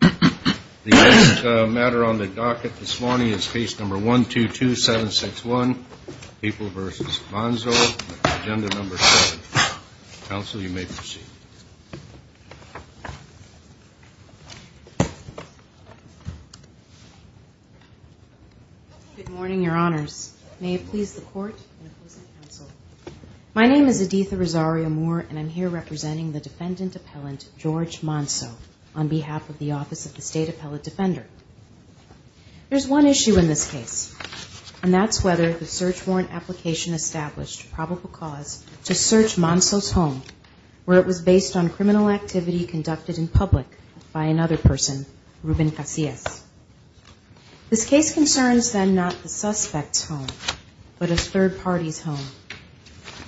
The next matter on the docket this morning is Case No. 122761, Papal v. Manzo, Agenda No. 7. Counsel, you may proceed. Good morning, Your Honors. May it please the Court and opposing counsel. My name is Aditha Rosario-Moore, and I'm here representing the defendant appellant, George Manzo, on behalf of the Office of the State Appellate Defender. There's one issue in this case, and that's whether the search warrant application established probable cause to search Manzo's home, where it was based on criminal activity conducted in public by another person, Ruben Casillas. This case concerns then not the suspect's home, but a third party's home,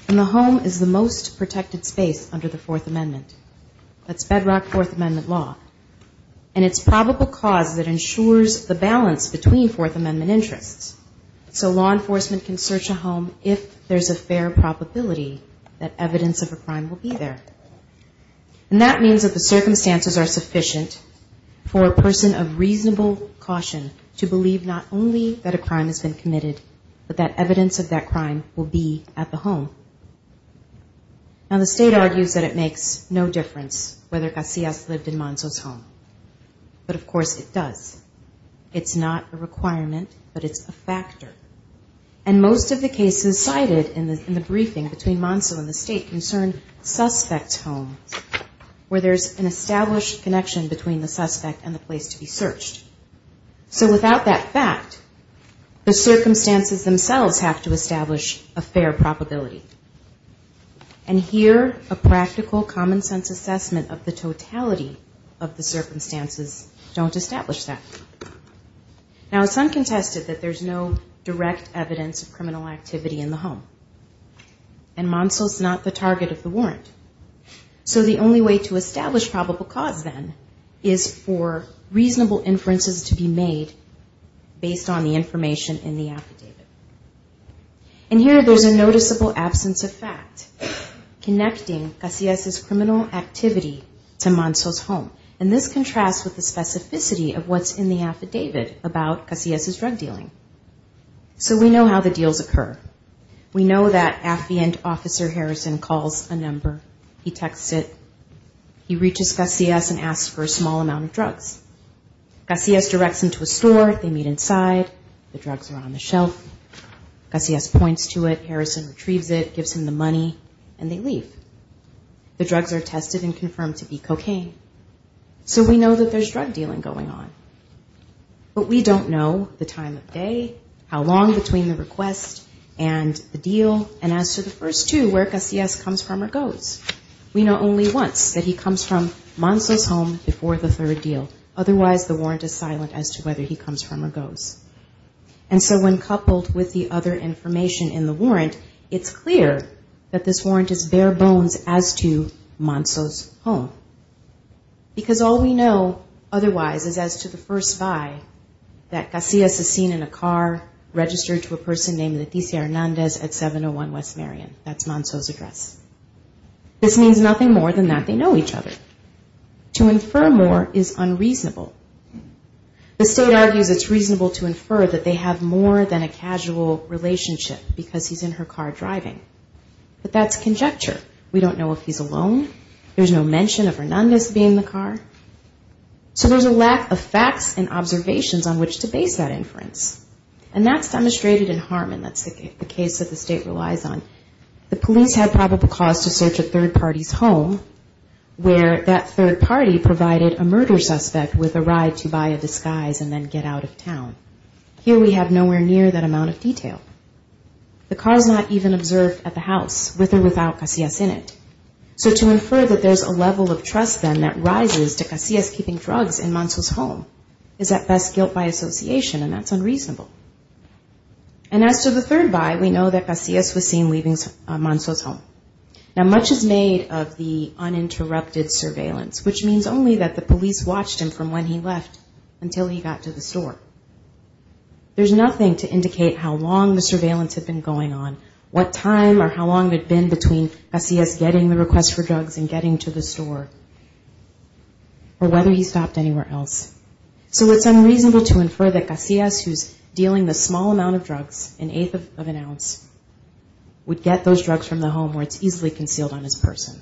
and the home is the most protected space under the Fourth Amendment. That's bedrock Fourth Amendment law. And it's probable cause that ensures the balance between Fourth Amendment interests. So law enforcement can search a home if there's a fair probability that evidence of a crime will be there. And that means that the circumstances are sufficient for a person of reasonable caution to believe not only that a crime has been committed, but that evidence of that crime will be at the home. Now, the state argues that it makes no difference whether Casillas lived in Manzo's home. But, of course, it does. It's not a requirement, but it's a factor. And most of the cases cited in the briefing between Manzo and the state concern suspect's homes, where there's an established connection between the suspect and the place to be searched. So without that fact, the circumstances themselves have to establish a fair probability. And here, a practical common sense assessment of the totality of the circumstances don't establish that. Now, it's uncontested that there's no direct evidence of criminal activity in the home. And Manzo's not the target of the warrant. So the only way to establish probable cause, then, is for reasonable inferences to be made based on the information in the affidavit. And here, there's a noticeable absence of fact connecting Casillas' criminal activity to Manzo's home. And this contrasts with the specificity of what's in the affidavit about Casillas' drug dealing. So we know how the deals occur. We know that affiant officer Harrison calls a number, he texts it, he reaches Casillas and asks for a small amount of drugs. Casillas directs him to a store, they meet inside, the drugs are on the shelf. Casillas points to it, Harrison retrieves it, gives him the money, and they leave. The drugs are tested and confirmed to be cocaine. So we know that there's drug dealing going on. And the deal, and as to the first two, where Casillas comes from or goes. We know only once, that he comes from Manzo's home before the third deal. Otherwise, the warrant is silent as to whether he comes from or goes. And so when coupled with the other information in the warrant, it's clear that this warrant is bare bones as to Manzo's home. Because all we know otherwise is as to the first guy that Casillas is seen in a car, registered to a person named Leticia Hernandez at 701 West Marion. That's Manzo's address. This means nothing more than that they know each other. To infer more is unreasonable. The state argues it's reasonable to infer that they have more than a casual relationship because he's in her car driving. But that's conjecture. We don't know if he's alone. There's no mention of Hernandez being in the car. So there's a lack of facts and observations on which to base that inference. And that's demonstrated in Harmon. That's the case that the state relies on. The police had probable cause to search a third party's home where that third party provided a murder suspect with a ride to buy a disguise and then get out of town. Here we have nowhere near that amount of detail. The car is not even observed at the house with or without Casillas in it. So to infer that there's a level of trust then that rises to Casillas keeping drugs in Manzo's home is at best guilt by association and that's unreasonable. So the third buy we know that Casillas was seen leaving Manzo's home. Now much is made of the uninterrupted surveillance which means only that the police watched him from when he left until he got to the store. There's nothing to indicate how long the surveillance had been going on, what time or how long it had been between Casillas getting the request for drugs and getting to the store or whether he stopped anywhere else. So it's unreasonable to infer that Casillas who's dealing the small amount of drugs, an eighth of an ounce, would get those drugs from the home where it's easily concealed on his person.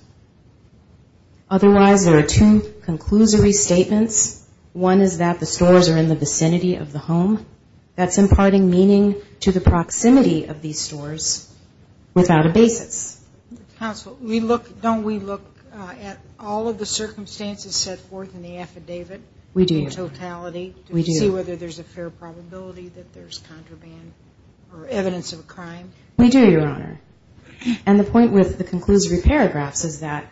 Otherwise there are two conclusory statements. One is that the stores are in the vicinity of the home. That's imparting meaning to the proximity of these stores without a basis. Counsel, don't we look at all of the circumstances set forth in the affidavit in totality to see whether there's a fair probability that there's contraband or evidence of a crime? We do, Your Honor, and the point with the conclusory paragraphs is that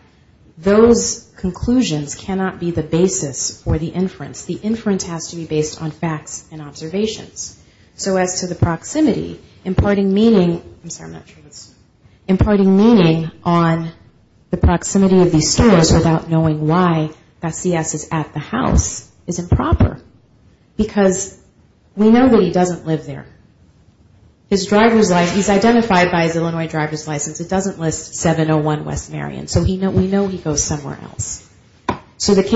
those conclusions cannot be the basis for the inference. The inference has to be based on facts and observations. So as to the proximity, imparting meaning on the proximity of these stores without knowing why Casillas is at the house is improper. Because we know that he doesn't live there. He's identified by his Illinois driver's license. It doesn't list 701 West Marion, so we know he goes somewhere else. We know that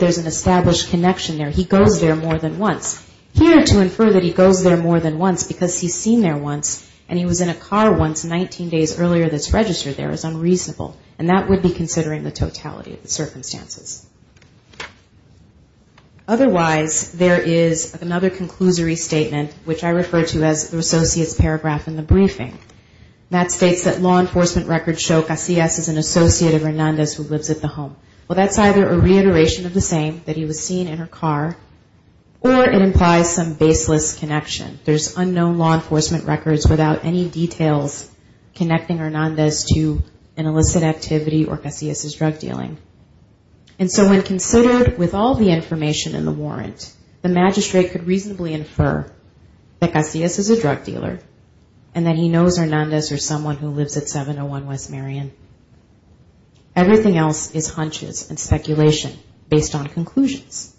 there's an established connection there. He goes there more than once. Here to infer that he goes there more than once because he's seen there once and he was in a car once 19 days earlier that's registered there is unreasonable, and that would be considering the totality of the circumstances. Otherwise there is another conclusory statement, which I refer to as the associates paragraph in the briefing. That states that law enforcement records show Casillas is an associate of Hernandez who lives at the home. Well, that's either a reiteration of the same, that he was seen in her car, or it implies some baseless connection. There's unknown law enforcement records without any details connecting Hernandez to an illicit activity or Casillas' drug dealing. And so when considered with all the information in the warrant, the magistrate could reasonably infer that Casillas is a drug dealer, and that he knows that Casillas is a drug dealer. He knows Hernandez or someone who lives at 701 West Marion. Everything else is hunches and speculation based on conclusions,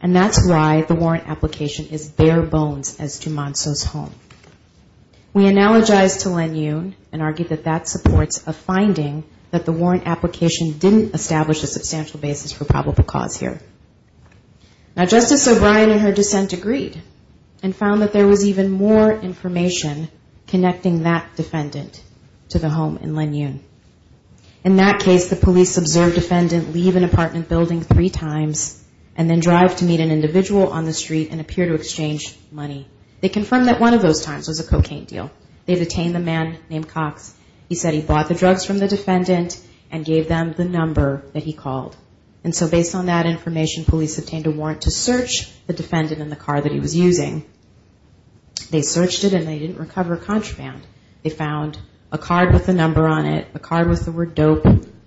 and that's why the warrant application is bare bones as to Monso's home. We analogize to Len Yun and argue that that supports a finding that the warrant application didn't establish a substantial basis for probable cause here. Now Justice O'Brien in her dissent agreed, and found that there was even more information connecting Casillas to Monso's home. And that defendant to the home in Len Yun. In that case, the police observed defendant leave an apartment building three times, and then drive to meet an individual on the street and appear to exchange money. They confirmed that one of those times was a cocaine deal. They detained a man named Cox. He said he bought the drugs from the defendant and gave them the number that he called. And so based on that information, police obtained a warrant to search the defendant in the car that he was using. They searched it and they didn't recover a contraband. They found a card with the number on it, a card with the word dope,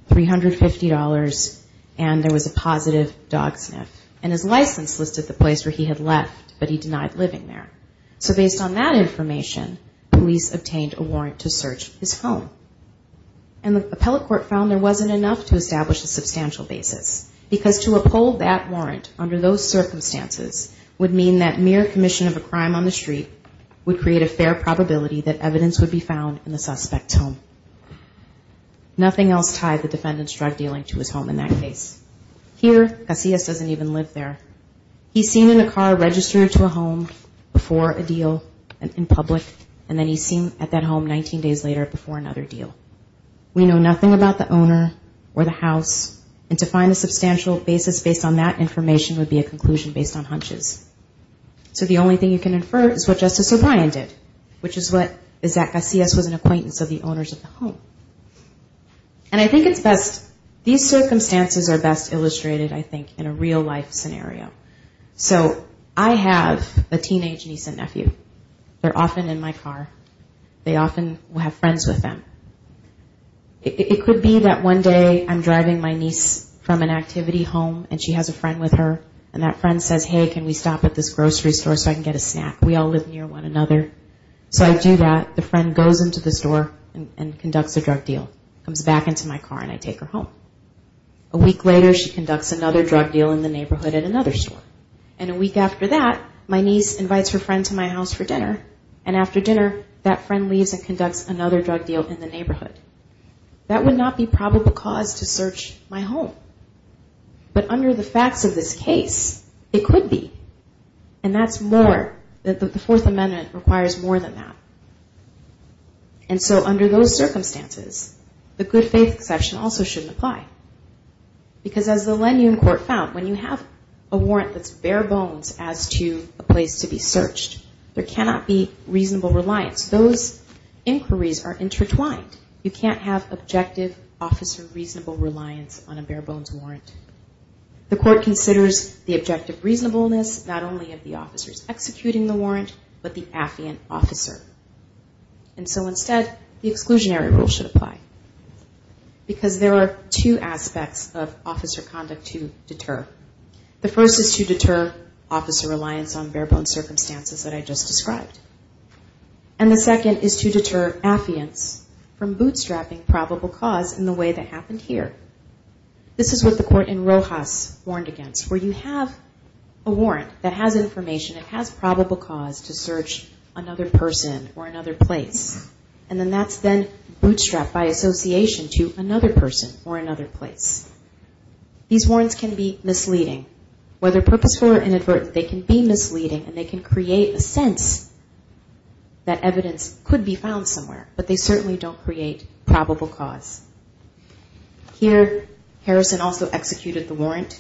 $350, and there was a positive dog sniff. And his license listed the place where he had left, but he denied living there. So based on that information, police obtained a warrant to search his home. And the appellate court found there wasn't enough to establish a substantial basis. Because to uphold that warrant under those circumstances would mean that mere commission of a crime on the street would create a fair probability that evidence would be found in the suspect's home. Nothing else tied the defendant's drug dealing to his home in that case. Here, Casillas doesn't even live there. He's seen in a car registered to a home before a deal in public, and then he's seen at that home 19 days later before another deal. We know nothing about the owner or the house, and to find a substantial basis based on that information would be a conclusion based on hunches. So the only thing you can infer is what Justice O'Brien did, which is that Casillas was an acquaintance of the owners of the home. And I think it's best, these circumstances are best illustrated, I think, in a real life scenario. So I have a teenage niece and nephew. They're often in my car. They often have friends with them. It could be that one day I'm driving my niece from an activity home, and she has a friend with her, and that friend says, hey, can we stop at this grocery store so I can get a snack? We all live near one another. So I do that. The friend goes into the store and conducts a drug deal, comes back into my car, and I take her home. A week later, she conducts another drug deal in the neighborhood at another store. And a week after that, my niece invites her friend to my house for dinner, and after dinner, that friend leaves and conducts another drug deal in the neighborhood. That would not be probable cause to search my home, but under the facts of this case, it could be. And that's more, the Fourth Amendment requires more than that. And so under those circumstances, the good faith exception also shouldn't apply. Because as the Lenun Court found, when you have a warrant that's bare bones as to a place to be searched, there cannot be reasonable reliance. Those inquiries are intertwined. You can't have objective officer reasonable reliance on a bare bones warrant. The court considers the objective reasonableness not only of the officers executing the warrant, but the affiant officer. And so instead, the exclusionary rule should apply. There are two aspects of officer conduct to deter. The first is to deter officer reliance on bare bones circumstances that I just described. And the second is to deter affiants from bootstrapping probable cause in the way that happened here. This is what the court in Rojas warned against, where you have a warrant that has information, it has probable cause to search another person or another place. And then that's then bootstrapped by association to another person or another place. These warrants can be misleading. Whether purposeful or inadvertent, they can be misleading and they can create a sense that evidence could be found somewhere, but they certainly don't create probable cause. Here, Harrison also executed the warrant.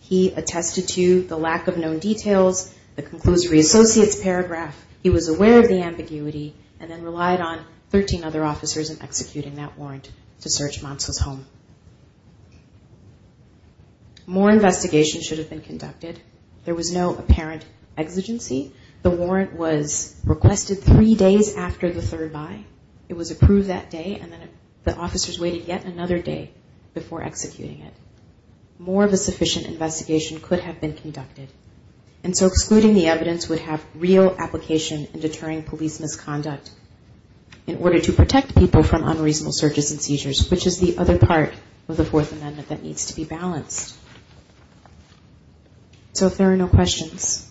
He attested to the lack of known details, the conclusory associates paragraph. He was aware of the ambiguity and then relied on 13 other officers in executing that warrant to search Monsa's home. More investigation should have been conducted. There was no apparent exigency. The warrant was requested three days after the third by. It was approved that day and then the officers waited yet another day before executing it. More of a sufficient investigation could have been conducted. This is the other part of the Fourth Amendment that needs to be balanced. So if there are no questions,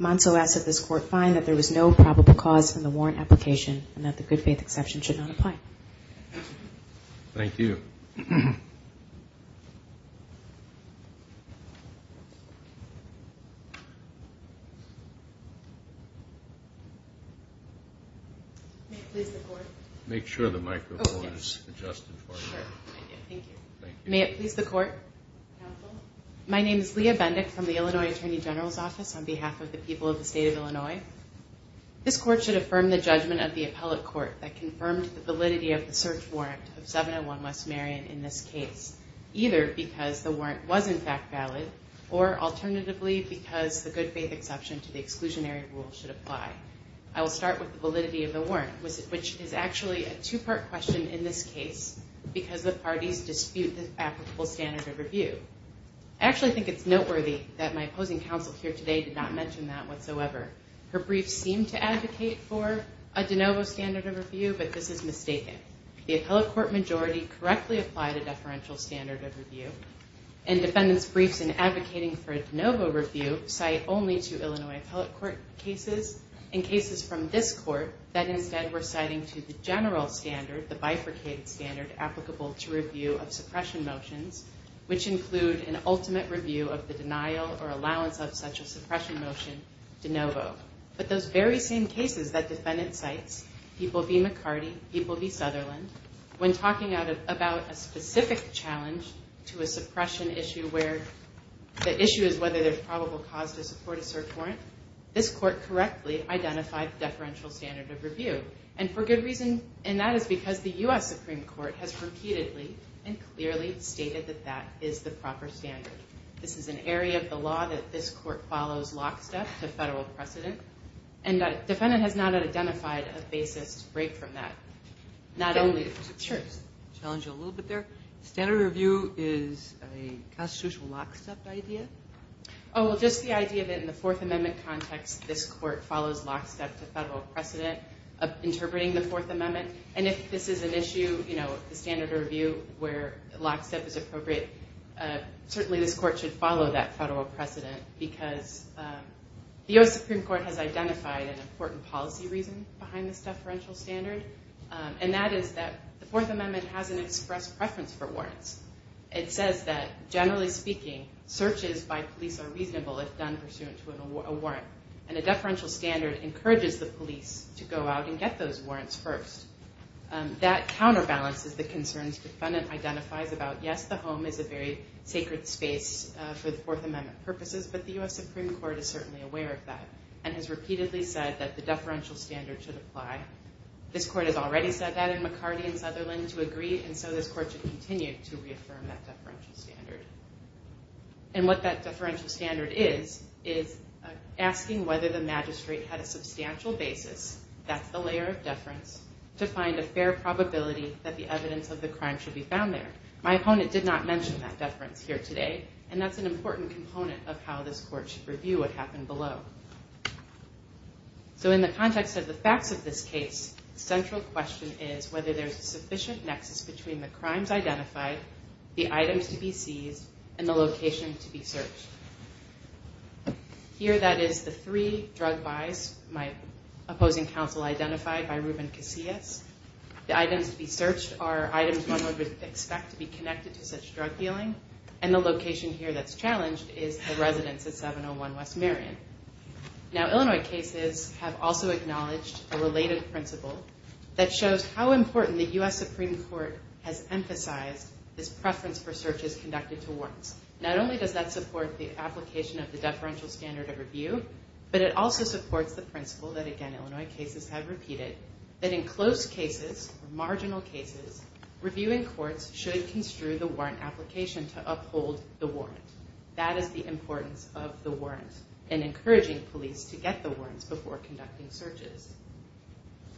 Monsa asks that this court find that there was no probable cause in the warrant application and that the good faith exception should not apply. Make sure the microphone is adjusted for you. May it please the court? My name is Leah Bendick from the Illinois Attorney General's Office on behalf of the people of the state of Illinois. This court should affirm the judgment of the appellate court that confirmed the validity of the search warrant of 701 West Marion in this case, either because the warrant was in fact valid or alternatively because the good faith exception to the exclusionary exception was not valid. I will start with the validity of the warrant, which is actually a two-part question in this case because the parties dispute the applicable standard of review. I actually think it's noteworthy that my opposing counsel here today did not mention that whatsoever. Her briefs seem to advocate for a de novo standard of review, but this is mistaken. The appellate court majority correctly applied a deferential standard of review and defendants' briefs in advocating for a de novo review cite only two Illinois appellate court cases and cases from this court that instead were citing to the general standard, the bifurcated standard applicable to review of suppression motions, which include an ultimate review of the denial or allowance of such a suppression motion de novo. But those very same cases that defendants cite, people v. McCarty, people v. Sutherland, when talking about a specific challenge to a suppression issue where the issue is whether there's probable cause, to support a cert warrant, this court correctly identified the deferential standard of review. And for good reason, and that is because the U.S. Supreme Court has repeatedly and clearly stated that that is the proper standard. This is an area of the law that this court follows lockstep to federal precedent, and the defendant has not identified a basis to break from that. Not only... I'm going to challenge you a little bit there. Standard review is a constitutional lockstep idea? Oh, well, just the idea that in the Fourth Amendment context, this court follows lockstep to federal precedent of interpreting the Fourth Amendment. And if this is an issue, you know, the standard review where lockstep is appropriate, certainly this court should follow that federal precedent because the U.S. Supreme Court has identified an important policy reason behind this deferential standard. And that is that the Fourth Amendment has an express preference for warrants. It says that, generally speaking, searches by police are reasonable if done pursuant to a warrant. And a deferential standard encourages the police to go out and get those warrants first. That counterbalances the concerns the defendant identifies about, yes, the home is a very sacred space for the Fourth Amendment purposes, but the U.S. Supreme Court is certainly aware of that and has repeatedly said that the deferential standard should apply. This court has already said that in McCarty and Sutherland to agree, and so this court should continue to reaffirm that deferential standard. And what that deferential standard is, is asking whether the magistrate had a substantial basis, that's the layer of deference, to find a fair probability that the evidence of the crime should be found there. My opponent did not mention that deference here today, and that's an important component of how this court should review what happened below. So in the context of the facts of this case, the central question is whether there's a sufficient nexus between the crimes identified, the items to be seized, and the location to be searched. Here that is the three drug buys my opposing counsel identified by Ruben Casillas. The items to be searched are items one would expect to be connected to such drug dealing, and the location here that's challenged is the residence at 701 West Marion. Now Illinois cases have also acknowledged a related principle that shows how important the U.S. Supreme Court has emphasized this preference for searches conducted to warrants. Not only does that support the application of the deferential standard of review, but it also supports the principle that again Illinois cases have repeated, that in close cases, marginal cases, reviewing courts should construe the warrant application to uphold the warrant. That is the importance of the warrant, and encouraging police to get the warrants before conducting searches.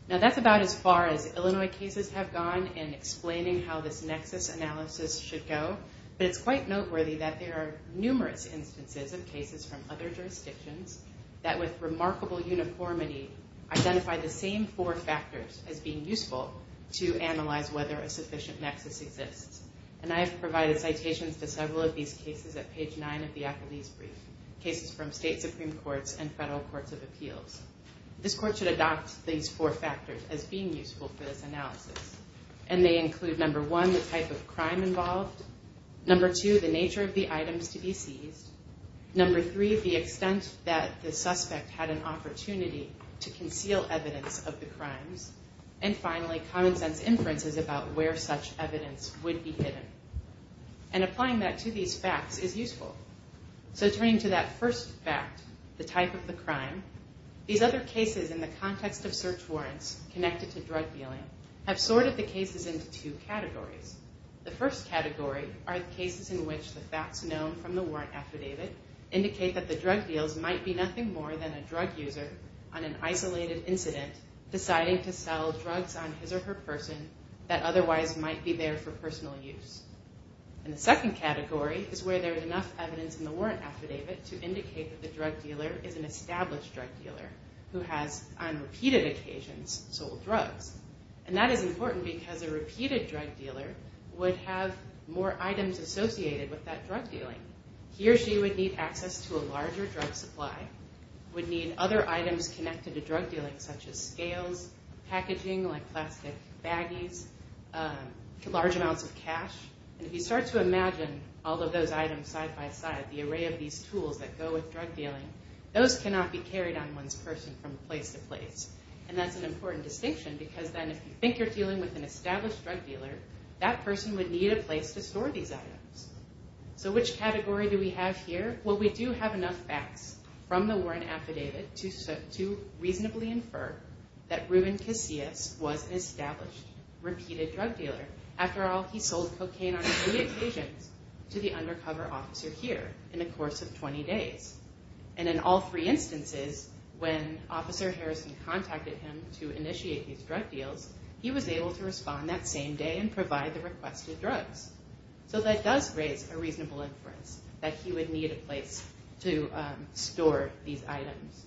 Now that's about as far as Illinois cases have gone in explaining how this nexus analysis should go, but it's quite noteworthy that there are numerous instances of cases from other jurisdictions that with remarkable uniformity, identify the same four factors as being useful to analyze whether a sufficient nexus exists. And I have provided citations to several of these cases at page nine of the appellee's brief, cases from state supreme courts and federal courts of appeals. This court should adopt these four factors as being useful for this analysis, and they include number one, the type of crime involved, number two, the nature of the items to be seized, number three, the extent that the suspect had an opportunity to conceal evidence of the crimes, and finally, common sense inferences about where such evidence would be hidden. And applying that to these facts is useful. So turning to that first fact, the type of the crime, these other cases in the context of search warrants connected to drug dealing have sorted the cases into two categories. The first category are the cases in which the facts known from the warrant affidavit indicate that the drug deals might be nothing more than a drug user on an isolated incident deciding to sell drugs on his or her person that otherwise might be there for personal use. And the second category is where there is enough evidence in the warrant affidavit to indicate that the drug dealer is an established drug dealer who has on repeated occasions sold drugs. And that is important because a repeated drug dealer would have more items associated with that drug dealing. He or she would need access to a larger drug supply, would need other items connected to drug dealing, such as scales, packaging, like plastic baggies, large amounts of cash. And if you start to imagine all of those items side by side, the array of these tools that go with drug dealing, those cannot be carried on one's person from place to place. And that's an important distinction because then if you think you're dealing with an established drug dealer, that person would need a place to store these items. So which category do we have here? Well, we do have enough facts from the warrant affidavit to reasonably infer that Ruben Casillas was an established, repeated drug dealer. After all, he sold cocaine on many occasions to the undercover officer here in the course of 20 days. And in all three instances, when Officer Harrison contacted him to initiate these drug deals, he was able to respond that same day and provide the requested drugs. So that does raise a reasonable inference that he would need a place to store these items,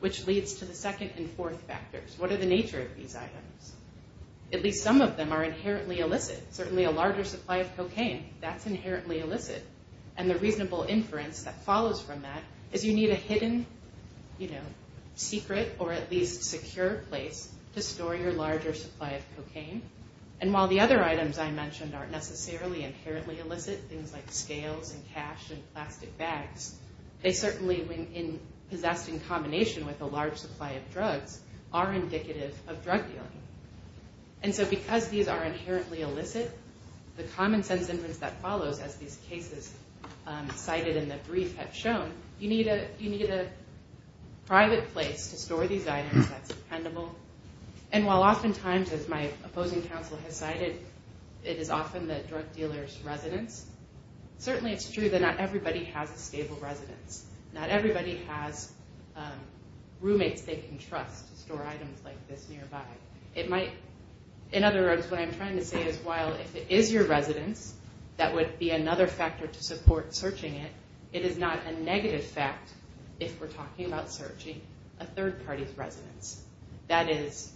which leads to the second and fourth factors. What are the nature of these items? At least some of them are inherently illicit. Certainly a larger supply of cocaine, that's inherently illicit. And the reasonable inference that follows from that is you need a hidden secret or at least secure place to store your larger supply of cocaine. And while the other items I mentioned aren't necessarily inherently illicit, things like scales and cash and plastic bags, they certainly, when possessed in combination with a large supply of drugs, are indicative of drug dealing. And so because these are inherently illicit, the common sense inference that follows, as these cases cited in the brief have shown, you need a private place to store these items that's dependable. And while oftentimes, as my opposing counsel has cited, it is often the drug dealer's residence, certainly it's true that not everybody has a stable residence. Not everybody has roommates they can trust to store items like this nearby. In other words, what I'm trying to say is while if it is your residence, that would be another factor to support searching it, it is not a negative fact if we're talking about searching a third party's residence. That is,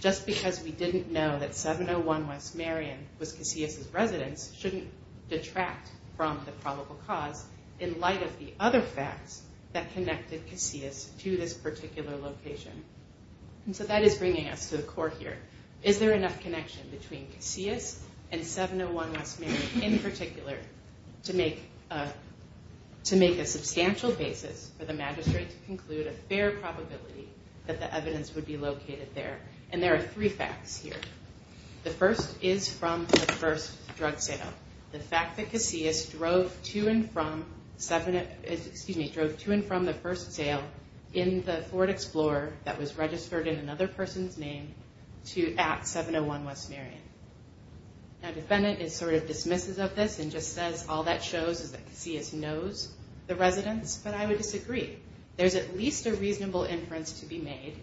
just because we didn't know that 701 West Marion was Casillas' residence shouldn't detract from the probable cause in light of the other facts that connected Casillas to this particular location. And so that is bringing us to the core here. Is there enough connection between Casillas and 701 West Marion in particular to make a substantial basis for the magistrate to conclude a fair probability that the evidence would be located there? And there are three facts here. The first is from the first drug sale. The fact that Casillas drove to and from the first sale in the Ford Explorer that was registered in another person's name at 701 West Marion. Now defendant is sort of dismissive of this and just says all that shows is that Casillas knows the residence, but I would disagree. There's at least a reasonable inference to be made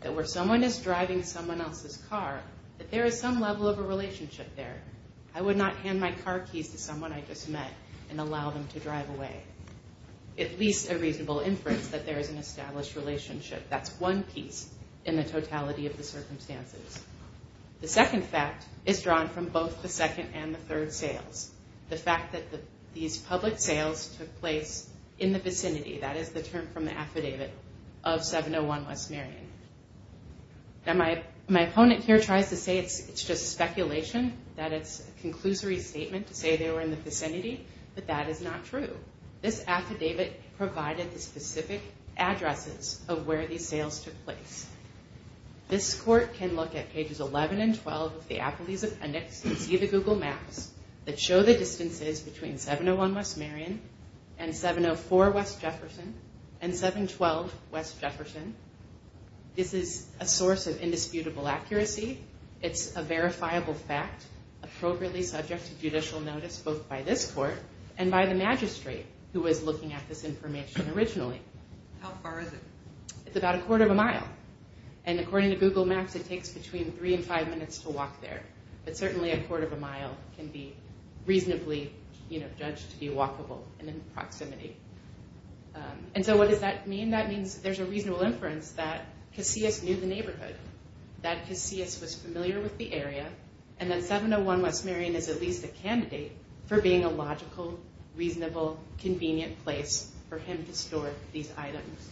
that where someone is driving someone else's car that there is some level of a relationship there. I would not hand my car keys to someone I just met and allow them to drive away. At least a reasonable inference that there is an established relationship. That's one piece in the totality of the circumstances. The second fact is drawn from both the second and the third sales. The fact that these public sales took place in the vicinity, that is the term from the affidavit of 701 West Marion. Now my opponent here tries to say it's just speculation, that it's a conclusory statement to say they were in the vicinity, but that is not true. This affidavit provided the specific addresses of where these sales took place. This court can look at pages 11 and 12 of the Applebee's Appendix and see the Google Maps that show the distances between 701 West Marion and 704 West Jefferson and 712 West Jefferson. This is a source of indisputable accuracy. It's a verifiable fact, appropriately subject to judicial notice both by this court and by the magistrate who was looking at this information originally. How far is it? It's about a quarter of a mile. According to Google Maps, it takes between three and five minutes to walk there. But certainly a quarter of a mile can be reasonably judged to be walkable and in proximity. What does that mean? That means there's a reasonable inference that Casillas knew the neighborhood. That Casillas was familiar with the area and that 701 West Marion is at least a candidate for being a logical, reasonable, convenient place for him to store these items.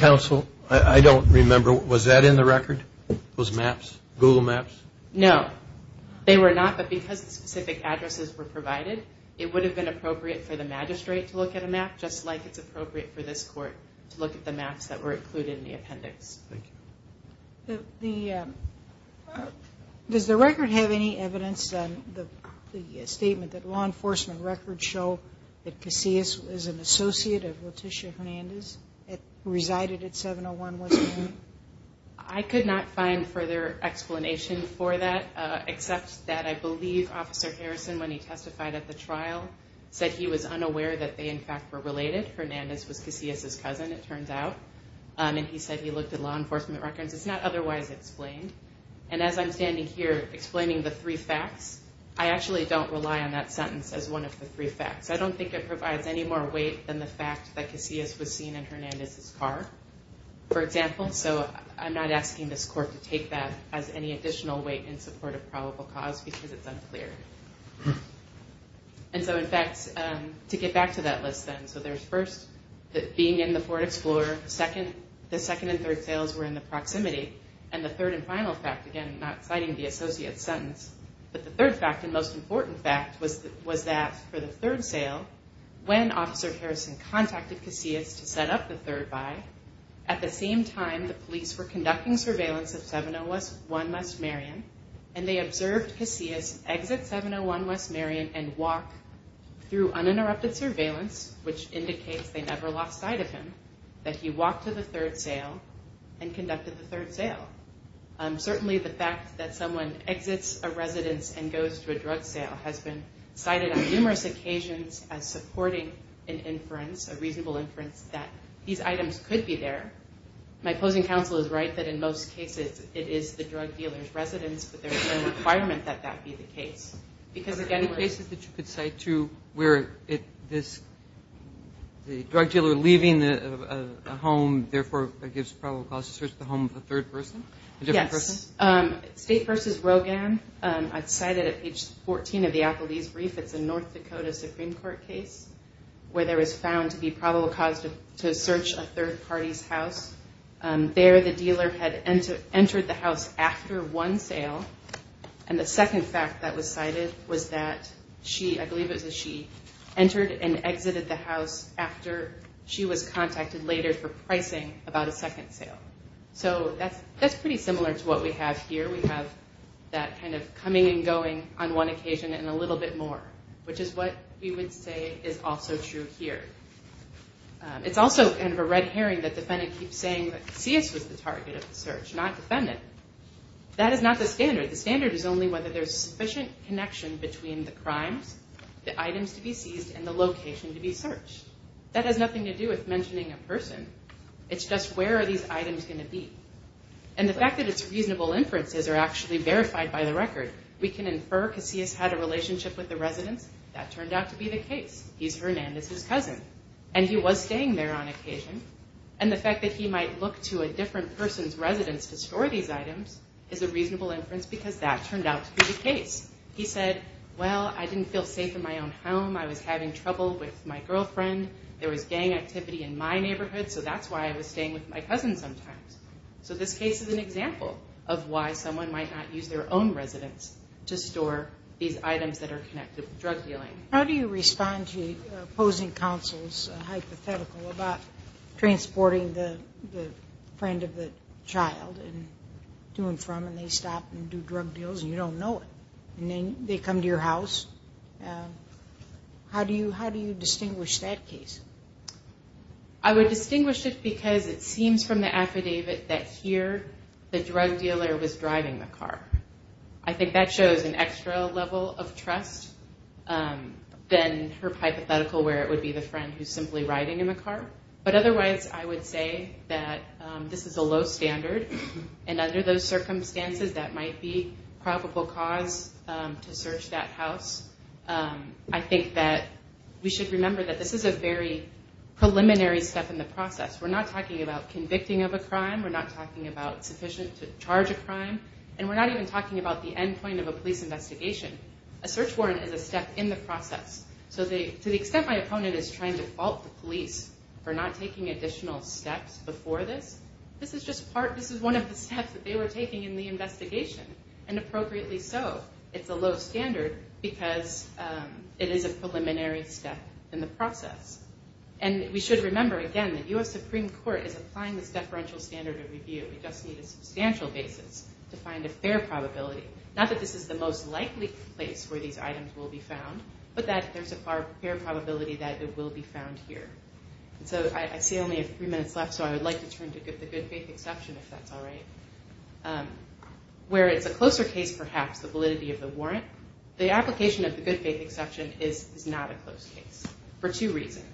Counsel, I don't remember. Was that in the record? Those maps? Google Maps? No, they were not. But because the specific addresses were provided, it would have been appropriate for the magistrate to look at a map just like it's appropriate for this court to look at the maps that were included in the appendix. Thank you. Does the record have any evidence on the statement that law enforcement records show that Casillas was an associate of Leticia Hernandez who resided at 701 West Marion? I could not find further explanation for that except that I believe Officer Harrison, when he testified at the trial, said he was unaware that they in fact were related. Hernandez was Casillas' cousin, it turns out. And he said he looked at law enforcement records. It's not otherwise explained. And as I'm standing here explaining the three facts, I actually don't rely on that sentence as one of the three facts. I don't think it provides any more weight than the fact that Casillas was seen in Hernandez' car, for example. So I'm not asking this court to take that as any additional weight in support of probable cause because it's unclear. And so in fact, to get back to that list then, so there's first, being in the Ford Explorer, the second and third sales were in the proximity, and the third and final fact, again, not citing the associate's sentence, but the third fact and most important fact was that for the third sale, when Officer Harrison contacted Casillas to set up the third buy, at the same time the police were conducting surveillance of 701 West Marion, and they observed Casillas exit 701 West Marion and walk through uninterrupted surveillance, which indicates they never lost sight of him, that he walked to the third sale and conducted the third sale. Certainly the fact that someone exits a residence and goes to a drug sale has been cited on numerous occasions as supporting an inference, a reasonable inference that these items could be there. My opposing counsel is right that in most cases it is the drug dealer's residence, but there is no requirement that that be the case. Are there any cases that you could cite too, where the drug dealer leaving a home, therefore gives probable cause to search the home of a third person? Yes. State versus Rogan. I've cited at page 14 of the Applebee's brief, it's a North Dakota Supreme Court case, where there was found to be probable cause to search a third party's house. There the dealer had entered the house after one sale, and the second fact that was cited was that she, I believe it was she, entered and exited the house after she was contacted later for pricing about a second sale. So that's pretty similar to what we have here. We have that kind of coming and going on one occasion and a little bit more, which is what we would say is also true here. It's also kind of a red herring that defendant keeps saying that Casillas was the target of the search, not defendant. That is not the standard. The standard is only whether there is sufficient connection between the crimes, the items to be seized, and the location to be searched. That has nothing to do with mentioning a person. It's just where are these items going to be. And the fact that it's reasonable inferences are actually verified by the record. We can infer Casillas had a relationship with the residents. That turned out to be the case. He's Hernandez's cousin, and he was staying there on occasion. And the fact that he might look to a different person's residence to store these items is a reasonable inference because that turned out to be the case. He said, well, I didn't feel safe in my own home. I was having trouble with my girlfriend. There was gang activity in my neighborhood, so that's why I was staying with my cousin sometimes. So this case is an example of why someone might not use their own residence to store these items that are connected with drug dealing. How do you respond to opposing counsel's hypothetical about transporting the friend of the child to and from and they stop and do drug deals and you don't know it. And then they come to your house. How do you distinguish that case? I would distinguish it because it seems from the affidavit that here the drug dealer was driving the car. I think that shows an extra level of trust than her hypothetical where it would be the friend who's simply riding in the car. But otherwise I would say that this is a low standard and under those circumstances that might be probable cause to search that house. I think that we should remember that this is a very preliminary step in the process. We're not talking about convicting of a crime. We're not talking about sufficient to charge a crime. And we're not even talking about the end point of a police investigation. A search warrant is a step in the process. To the extent my opponent is trying to fault the police for not taking additional steps before this, this is one of the steps that they were taking in the investigation and appropriately so. It's a low standard because it is a preliminary step in the process. And we should remember again that U.S. Supreme Court is applying this deferential standard of review. We just need a substantial basis to find a fair probability. Not that this is the most likely place where these items will be found, but that there's a fair probability that it will be found here. I see only a few minutes left, so I would like to turn to the good faith exception if that's alright. Where it's a closer case perhaps, the validity of the warrant, the application of the good faith exception is not a close case for two reasons.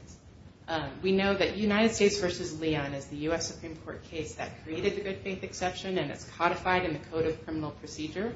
We know that United States versus Leon is the U.S. Supreme Court case that created the good faith exception and it's codified in the Code of Criminal Procedure.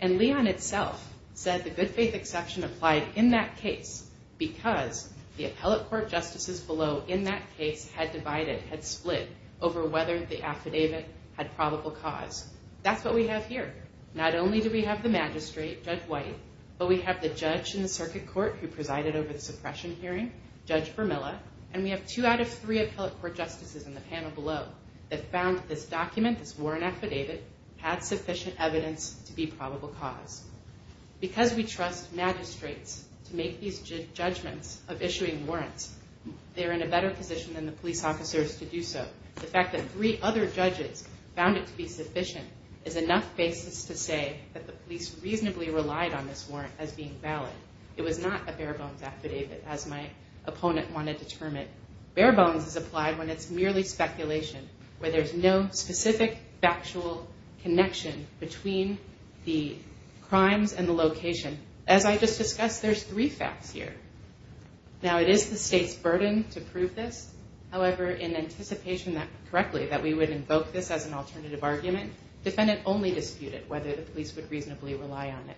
And Leon itself said the good faith exception applied in that case because the appellate court justices below in that case had divided, had split over whether the affidavit had probable cause. That's what we have here. Not only do we have the magistrate, Judge White, but we have the judge in the circuit court who presided over the suppression hearing, Judge Vermilla, and we have two out of three appellate court justices in the panel below that found this document, this warrant affidavit, had sufficient evidence to be probable cause. Because we trust magistrates to make these judgments of issuing warrants, they're in a better position than the police officers to do so. The fact that three other judges found it to be sufficient is enough basis to say that the police reasonably relied on this warrant as being valid. It was not a bare bones affidavit, as my opponent wanted to determine. Bare bones is applied when it's merely speculation where there's no specific factual connection between the crimes and the location. As I just discussed, there's three facts here. Now it is the state's burden to prove this. However, in anticipation that correctly, that we would invoke this as an alternative argument, defendant only disputed whether the police would reasonably rely on it.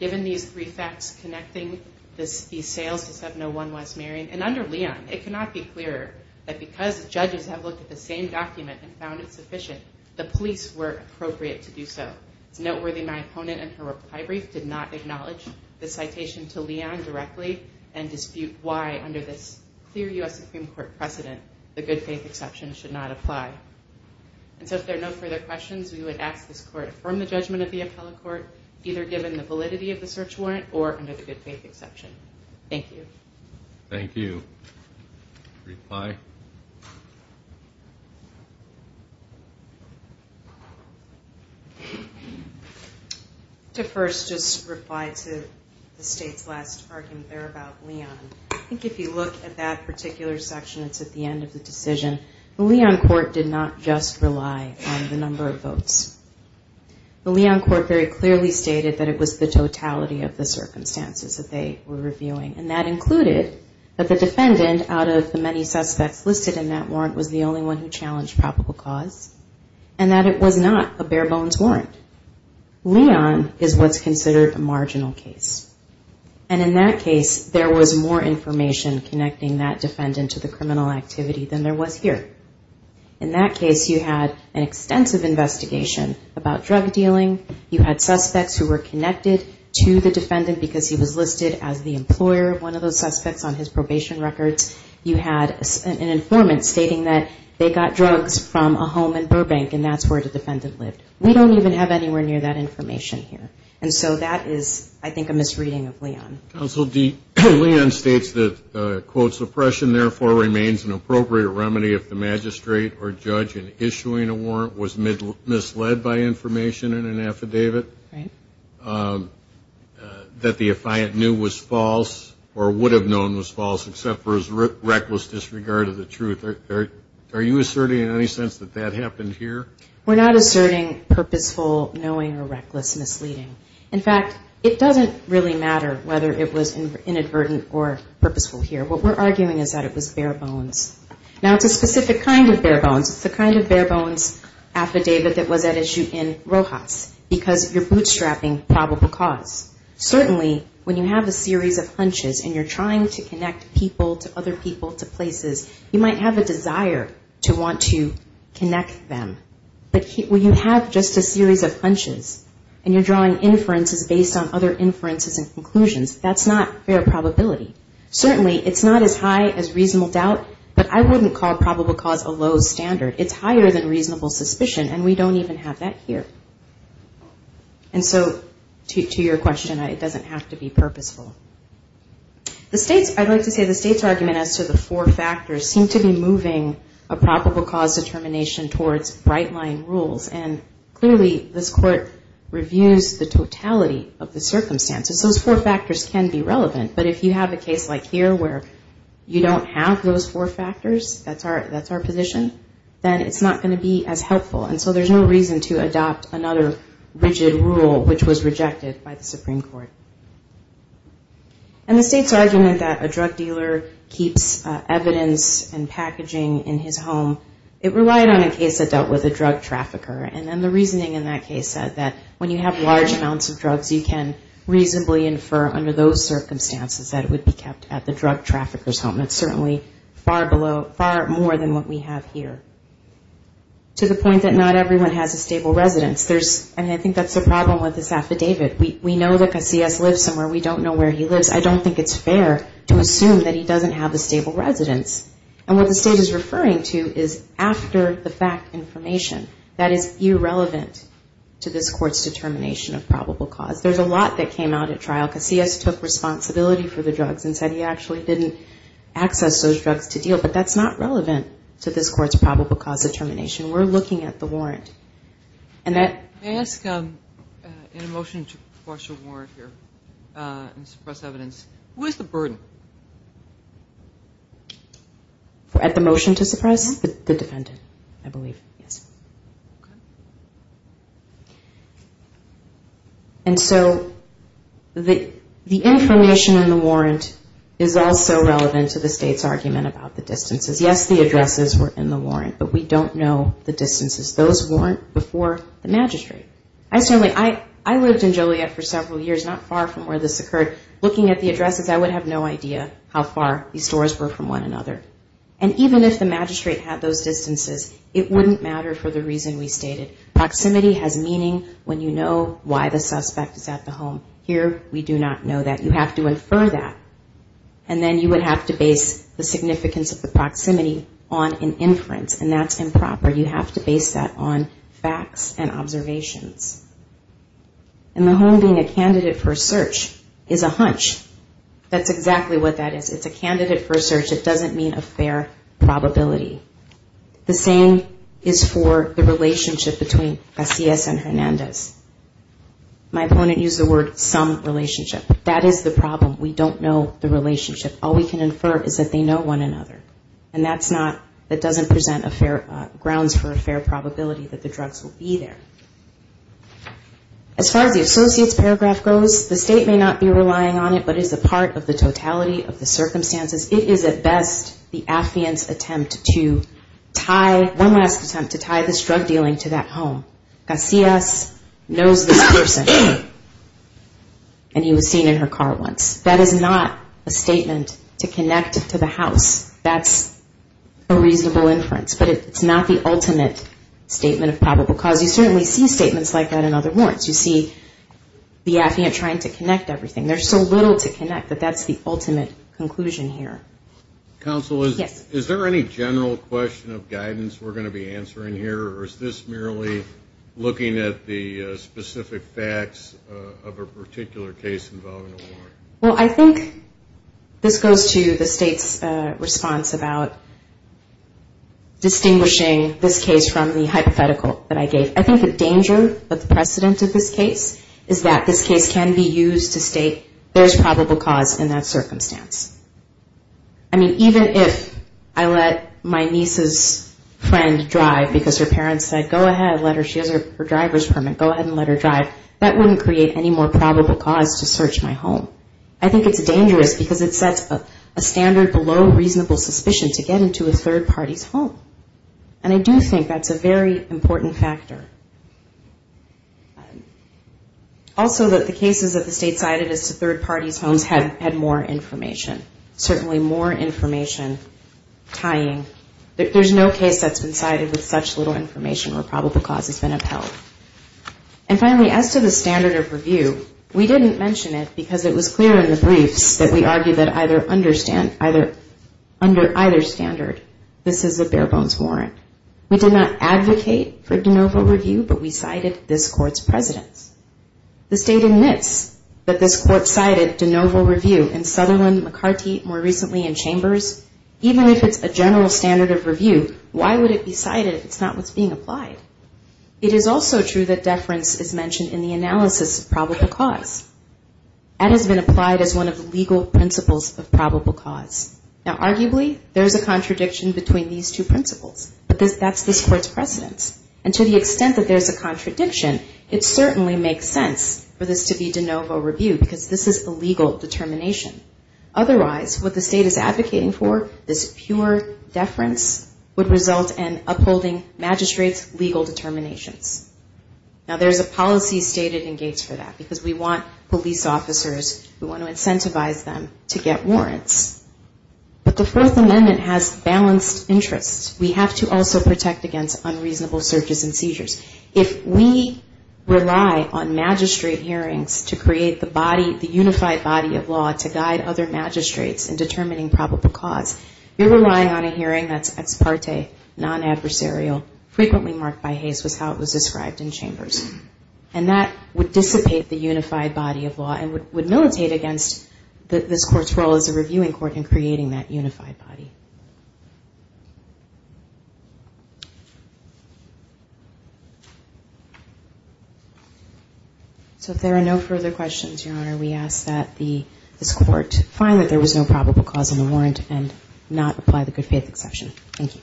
Given these three facts connecting these sales to 701 West Marion, and under Leon, it cannot be clearer that because judges have looked at the same document and found it sufficient, the police were appropriate to do so. It's noteworthy my opponent in her reply brief did not acknowledge the citation to Leon directly and dispute why, under this clear U.S. Supreme Court precedent, the good faith exception should not apply. And so if there are no further questions, we would ask this court to affirm the judgment of the appellate court, either given the validity of the search warrant or under the good faith exception. Thank you. Thank you. Reply. To first just reply to the state's last argument there about Leon. I think if you look at that particular section, it's at the end of the decision. The Leon court did not just rely on the number of votes. The Leon court very clearly stated that it was the totality of the circumstances that they were reviewing. And that included that the defendant, out of the many suspects listed in that warrant, was the only one who challenged probable cause. And that it was not a bare bones warrant. Leon is what's considered a marginal case. And in that case, there was more information connecting that defendant to the criminal activity than there was here. In that case, you had an extensive investigation about drug dealing. You had suspects who were connected to the defendant because he was listed as the employer, one of those suspects on his probation records. You had an informant stating that they got drugs from a home in Burbank and that's where the defendant lived. We don't even have anywhere near that information here. And so that is, I think, a misreading of Leon. Counsel, Leon states that quote, suppression therefore remains an appropriate remedy if the magistrate or judge in issuing a warrant was misled by information in an affidavit. Right. That the affiant knew was false or would have known was false except for his reckless disregard of the truth. Are you asserting in any sense that that happened here? We're not asserting purposeful knowing or reckless misleading. In fact, it doesn't really matter whether it was inadvertent or purposeful here. What we're arguing is that it was bare bones. Now it's a specific kind of bare bones. It's the kind of bare bones affidavit that was at issue in Rojas because you're bootstrapping probable cause. Certainly when you have a series of hunches and you're trying to connect people to other people to places, you might have a desire to want to connect them. But when you have just a series of hunches and you're drawing inferences based on other inferences and conclusions, that's not fair probability. Certainly it's not as high as reasonable doubt, but I wouldn't call probable cause a low standard. It's higher than reasonable suspicion and we don't even have that here. And so to your question, it doesn't have to be purposeful. I'd like to say the state's argument as to the four factors seem to be moving a probable cause determination towards bright line rules and clearly this court reviews the totality of the circumstances. Those four factors can be relevant but if you have a case like here where you don't have those four factors, that's our position, then it's not going to be as helpful and so there's no reason to adopt another rigid rule which was rejected by the Supreme Court. And the state's argument that a drug dealer keeps evidence and packaging in his home, it relied on a case that dealt with a drug trafficker and then the reasoning in that case said that when you have large amounts of drugs you can reasonably infer under those circumstances that it would be kept at the drug trafficker's home. It's certainly far more than what we have here. To the point that not everyone has a stable residence. And I think that's the problem with this affidavit. We know that Casillas lives somewhere. We don't know where he lives. I don't think it's fair to assume that he doesn't have a stable residence. And what the state is referring to is after-the-fact information that is irrelevant to this court's determination of probable cause. There's a lot that came out at trial. Casillas took responsibility for the drugs and said he actually didn't access those drugs to deal but that's not relevant to this court's probable cause determination. We're looking at the warrant. May I ask, in a motion to suppress your warrant here and suppress evidence, what is the burden? At the motion to suppress? The defendant, I believe. Yes. And so the information in the warrant is also relevant to the state's argument about the distances. Yes, the addresses were in the warrant, but we don't know the distances. Those weren't before the magistrate. I lived in Joliet for several years, not far from where this occurred. Looking at the addresses, I would have no idea how far these doors were from one another. And even if the magistrate had those distances, it wouldn't matter for the reason we stated. Proximity has meaning when you know why the suspect is at the home. Here, we do not know that. You have to infer that. And then you would have to base the significance of the proximity on an inference, and that's improper. You have to base that on facts and observations. And the home being a candidate for a search is a hunch. That's exactly what that is. It's a candidate for a search. It doesn't mean a fair probability. The same is for the relationship between Casillas and Hernandez. My opponent used the word some relationship. That is the problem. We don't know the relationship. All we can infer is that they know one another. And that doesn't present grounds for a fair probability that the drugs will be there. As far as the associate's paragraph goes, the state may not be relying on it, but it is a part of the totality of the circumstances. It is, at best, the affiant's attempt to tie this drug dealing to that home. Casillas knows this person. And he was seen in her car once. That is not a statement to connect to the house. That's a reasonable inference. But it's not the ultimate statement of probable cause. You certainly see statements like that in other warrants. You see the affiant trying to connect everything. There's so little to connect that that's the ultimate conclusion here. Counsel, is there any general question of guidance we're going to be answering here? Or is this merely looking at the specific facts of a particular case involving a warrant? Well, I think this goes to the state's response about distinguishing this case from the hypothetical that I gave. I think the danger of the precedent of this case is that this case can be used to state there's probable cause in that circumstance. I mean, even if I let my niece's friend drive because her parents said go ahead, she has her driver's permit, go ahead and let her drive, that wouldn't create any more probable cause to search my home. I think it's dangerous because it sets a standard below reasonable suspicion to get into a third party's home. And I do think that's a very important factor. Also that the cases that the state cited as third party's homes had more information. Certainly more information tying. There's no case that's been cited with such little information where probable cause has been upheld. And finally, as to the standard of review, we didn't mention it because it was clear in the briefs that we argued that under either standard this is a bare bones warrant. We did not advocate for de novo review, but we cited this court's precedents. The state admits that this court cited de novo review in Sutherland, McCarty, more recently in Chambers. Even if it's a general standard of review, why would it be cited if it's not what's being applied? It is also true that deference is mentioned in the analysis of probable cause. That has been applied as one of the legal principles of probable cause. Now arguably, there's a contradiction between these two principles, but that's this court's precedents. And to the extent that there's a contradiction, it certainly makes sense for this to be de novo review because this is a legal determination. Otherwise, what the state is advocating for, this pure deference would result in upholding magistrate's legal determinations. Now there's a policy stated in Gates for that because we want police officers, we want to incentivize them to get warrants. But the First Amendment has balanced interests. We have to also protect against unreasonable searches and seizures. If we rely on magistrate hearings to create the unified body of law to guide other magistrates in determining probable cause, you're relying on a hearing that's ex parte, non-adversarial, frequently marked by Hays was how it was described in Chambers. And that would dissipate the unified body of law and would militate against this court's role as a reviewing court in creating that unified body. So if there are no further questions, Your Honor, we ask that this court find that there was no probable cause in the warrant and not apply the good faith exception. Thank you.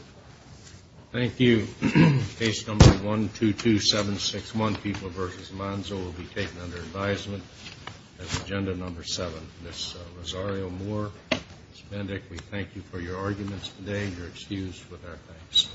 Thank you. Case number 122761, People v. Monzo will be taken under advisement as agenda number 7. Ms. Rosario Moore, Ms. Bendick, we thank you for your arguments today. You're excused with our thanks.